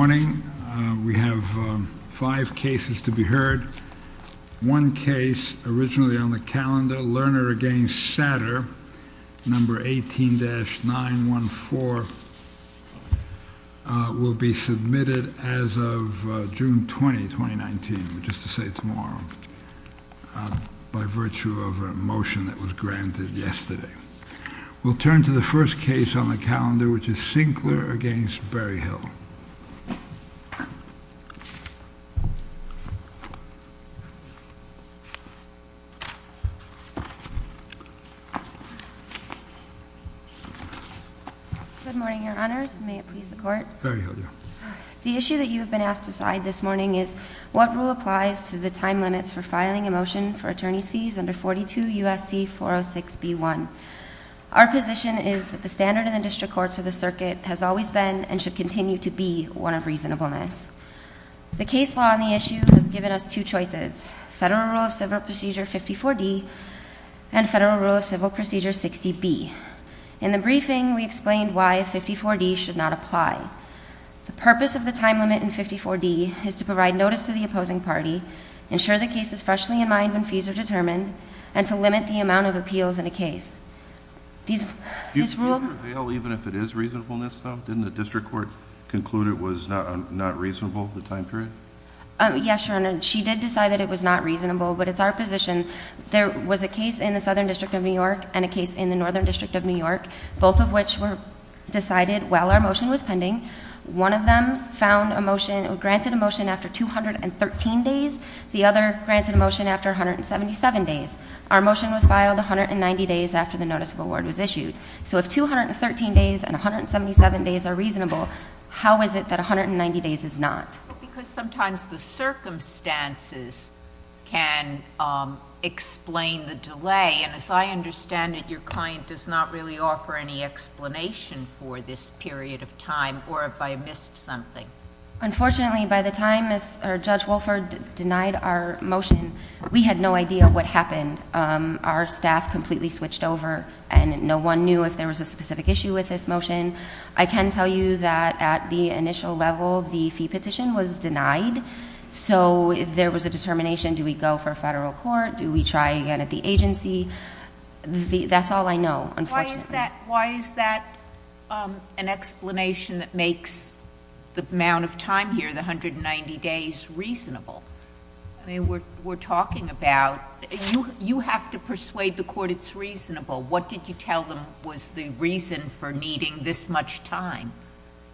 Good morning. We have five cases to be heard. One case originally on the calendar, Lerner v. Satter, No. 18-914, will be submitted as of June 20, 2019, just to say tomorrow, by virtue of a motion that was granted yesterday. We'll turn to the first case on the calendar, which is Sinkler v. Berryhill. Berryhill, yeah. The issue that you have been asked to decide this morning is, what rule applies to the time limits for filing a motion for attorney's fees under 42 U.S.C. 406b1? Our position is that the standard in the district courts of the circuit has always been and should continue to be one of reasonableness. The case law on the issue has given us two choices, Federal Rule of Civil Procedure 54d and Federal Rule of Civil Procedure 60b. In the briefing, we explained why 54d should not apply. The purpose of the time limit in 54d is to provide notice to the opposing party, ensure the case is freshly in mind when fees are determined, and to limit the amount of appeals in a case. Do you prevail even if it is reasonableness, though? Didn't the district court conclude it was not reasonable, the time period? Yes, Your Honor. She did decide that it was not reasonable, but it's our position. There was a case in the Southern District of New York and a case in the Northern District of New York, both of which were decided while our motion was pending. One of them found a motion or granted a motion after 213 days. The other granted a motion after 177 days. Our motion was filed 190 days after the notice of award was issued. So if 213 days and 177 days are reasonable, how is it that 190 days is not? Because sometimes the circumstances can explain the delay, and as I understand it, your client does not really offer any explanation for this period of time or if I missed something. Unfortunately, by the time Judge Wolford denied our motion, we had no idea what happened. Our staff completely switched over and no one knew if there was a specific issue with this motion. I can tell you that at the initial level, the fee petition was denied. So there was a determination, do we go for federal court? Do we try again at the agency? That's all I know, unfortunately. Why is that an explanation that makes the amount of time here, the 190 days, reasonable? We're talking about, you have to persuade the court it's reasonable. What did you tell them was the reason for needing this much time?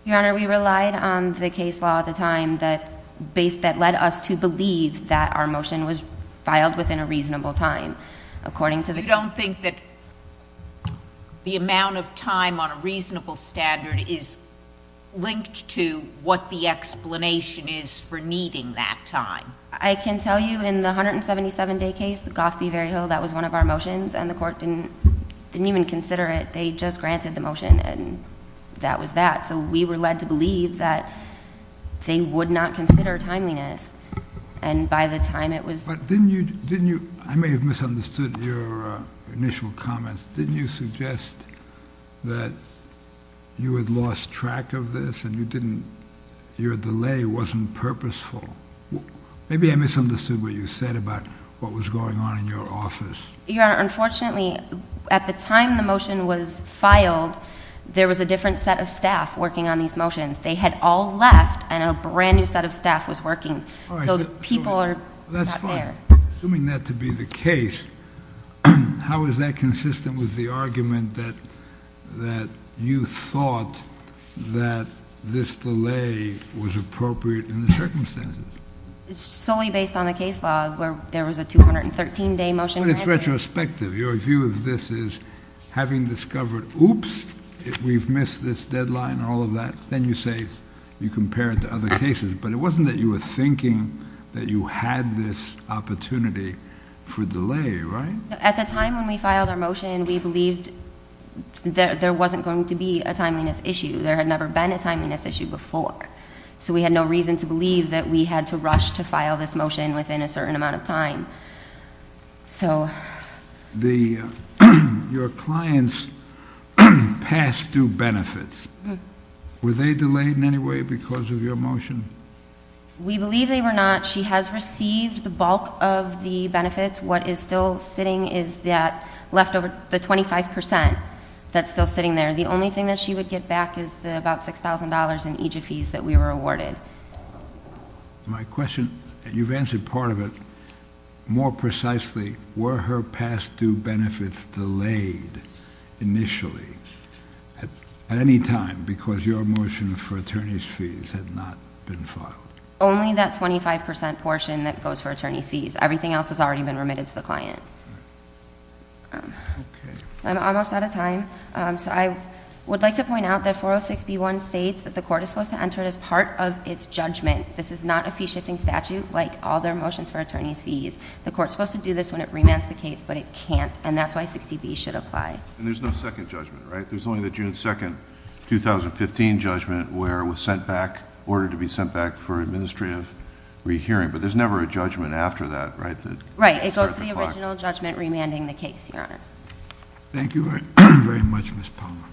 Your Honor, we relied on the case law at the time that led us to believe that our motion was filed within a reasonable time. You don't think that the amount of time on a reasonable standard is linked to what the explanation is for needing that time? I can tell you in the 177-day case, the Gough Beverry Hill, that was one of our motions and the court didn't even consider it. They just granted the motion and that was that. So we were led to believe that they would not consider timeliness. I may have misunderstood your initial comments. Didn't you suggest that you had lost track of this and your delay wasn't purposeful? Maybe I misunderstood what you said about what was going on in your office. Your Honor, unfortunately, at the time the motion was filed, there was a different set of staff working on these motions. They had all left and a brand new set of staff was working. So people are not there. Assuming that to be the case, how is that consistent with the argument that you thought that this delay was appropriate in the circumstances? It's solely based on the case law where there was a 213-day motion. But it's retrospective. Your view of this is, having discovered, oops, we've missed this deadline and all of that, then you say you compare it to other cases. But it wasn't that you were thinking that you had this opportunity for delay, right? At the time when we filed our motion, we believed there wasn't going to be a timeliness issue. There had never been a timeliness issue before. So we had no reason to believe that we had to rush to file this motion within a certain amount of time. Your clients passed due benefits. Were they delayed in any way because of your motion? We believe they were not. She has received the bulk of the benefits. What is still sitting is the 25 percent that's still sitting there. The only thing that she would get back is the about $6,000 in EGF fees that we were awarded. My question, and you've answered part of it, more precisely, were her past due benefits delayed initially at any time because your motion for attorney's fees had not been filed? Only that 25 percent portion that goes for attorney's fees. Everything else has already been remitted to the client. Okay. I'm almost out of time. So I would like to point out that 406B1 states that the court is supposed to enter it as part of its judgment. This is not a fee-shifting statute like all their motions for attorney's fees. The court's supposed to do this when it remands the case, but it can't, and that's why 60B should apply. And there's no second judgment, right? There's only the June 2, 2015 judgment where it was sent back, ordered to be sent back for administrative rehearing, but there's never a judgment after that, right? Right. It goes to the original judgment remanding the case, Your Honor. Thank you very much, Ms. Palmer.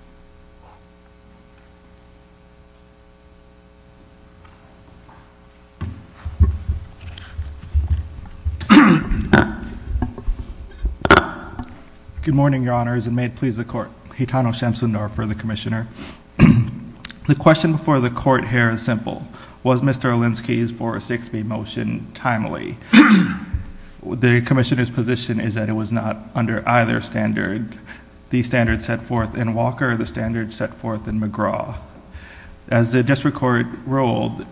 Good morning, Your Honors, and may it please the Court. Hitano Shamsundar for the Commissioner. The question before the Court here is simple. Was Mr. Olinsky's 406B motion timely? The Commissioner's position is that it was not under either standard. The standard set forth in Walker, the standard set forth in McGraw. As the district court ruled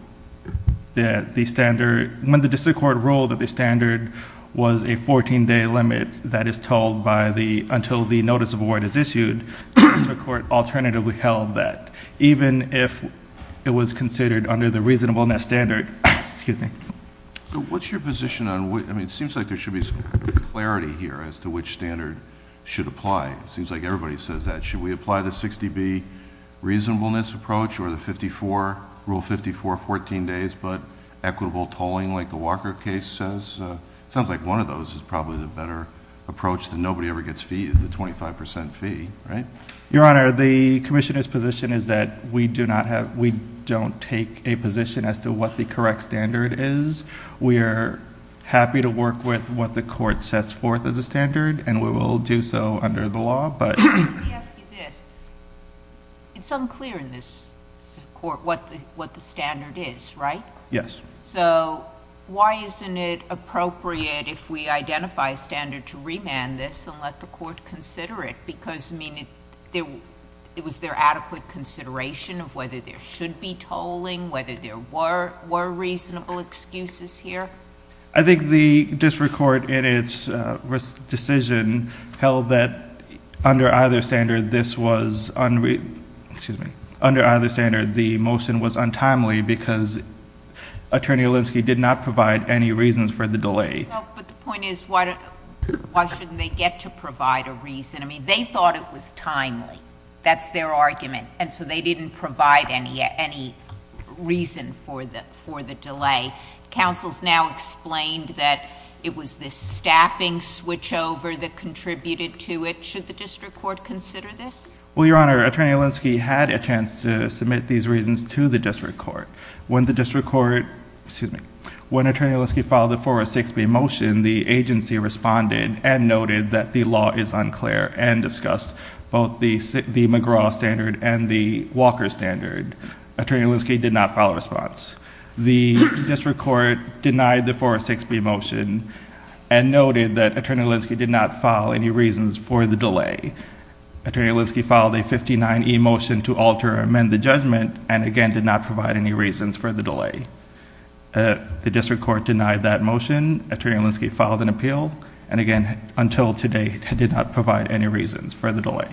that the standard... when the district court ruled that the standard was a 14-day limit that is told by the... until the notice of award is issued, the district court alternatively held that even if it was considered under the reasonableness standard... excuse me. What's your position on... it seems like there should be some clarity here as to which standard should apply. It seems like everybody says that. Should we apply the 60B reasonableness approach or the 54, Rule 54, 14 days but equitable tolling like the Walker case says? It sounds like one of those is probably the better approach that nobody ever gets feed, the 25% fee, right? Your Honor, the Commissioner's position is that we do not have... we don't take a position as to what the correct standard is. We are happy to work with what the court sets forth as a standard and we will do so under the law but... Let me ask you this. It's unclear in this court what the standard is, right? Yes. Why isn't it appropriate if we identify a standard to remand this and let the court consider it because it was their adequate consideration of whether there should be tolling, whether there were reasonable excuses here? I think the district court in its decision held that under either standard this was... excuse me. Under either standard the motion was untimely because Attorney Alinsky did not provide any reasons for the delay. But the point is why shouldn't they get to provide a reason? I mean, they thought it was reason for the delay. Counsel's now explained that it was this staffing switchover that contributed to it. Should the district court consider this? Well, Your Honor, Attorney Alinsky had a chance to submit these reasons to the district court. When the district court... excuse me. When Attorney Alinsky filed the 406B motion, the agency responded and noted that the law is unclear and discussed both the McGraw standard and the Walker standard. Attorney Alinsky did not file a response. The district court denied the 406B motion and noted that Attorney Alinsky did not file any reasons for the delay. Attorney Alinsky filed a 59E motion to alter or amend the judgment and again did not provide any reasons for the delay. The district court denied that motion. Attorney Alinsky filed an appeal and again until today did not provide any reasons for the delay.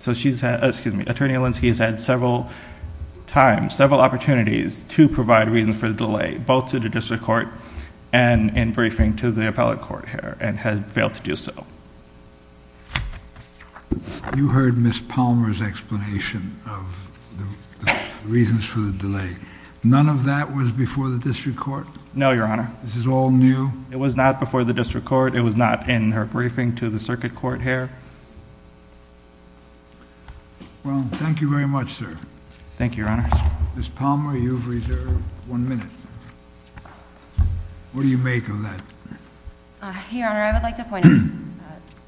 So she's... excuse me. Attorney Alinsky has had several times, several opportunities to provide reasons for the delay both to the district court and in briefing to the appellate court here and had failed to do so. You heard Ms. Palmer's explanation of the reasons for the delay. None of that was before the district court? No, Your Honor. This is all new? It was not before the district court. It was not in her briefing to the circuit court here. Well, thank you very much, sir. Thank you, Your Honor. Ms. Palmer, you have reserved one minute. What do you make of that? Your Honor, I would like to point out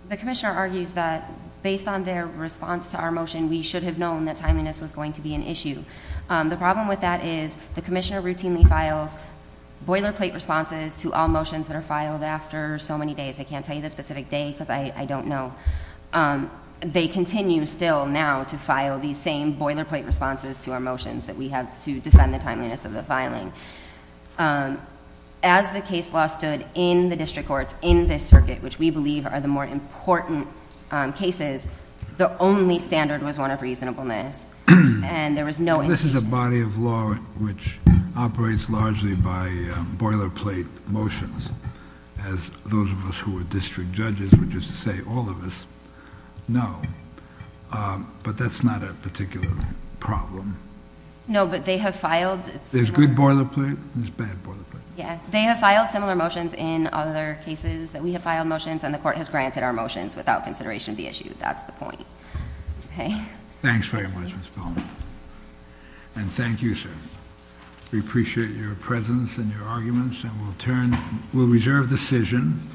the commissioner argues that based on their response to our motion, we should have known that timeliness was going to be an issue. The district court routinely files boilerplate responses to all motions that are filed after so many days. I can't tell you the specific day because I don't know. They continue still now to file these same boilerplate responses to our motions that we have to defend the timeliness of the filing. As the case law stood in the district courts, in this circuit, which we believe are the more important cases, the only standard was one of reasonableness and there is no reasonableness to file boilerplate responses to motions that are filed after so many days. I would like to point out that the district court has raised largely by boilerplate motions as those of us who are district judges would just say, all of us, no, but that's not a particular problem. No, but they have filed... There's good boilerplate, there's bad boilerplate. Yeah, they have filed similar motions in other cases that we have filed motions and the court has granted our motions without consideration of the issue. That's the point. Okay. Thanks very much, Ms. Bowman. And thank you, sir. We appreciate your presence and your arguments and we'll turn... We'll reserve decision.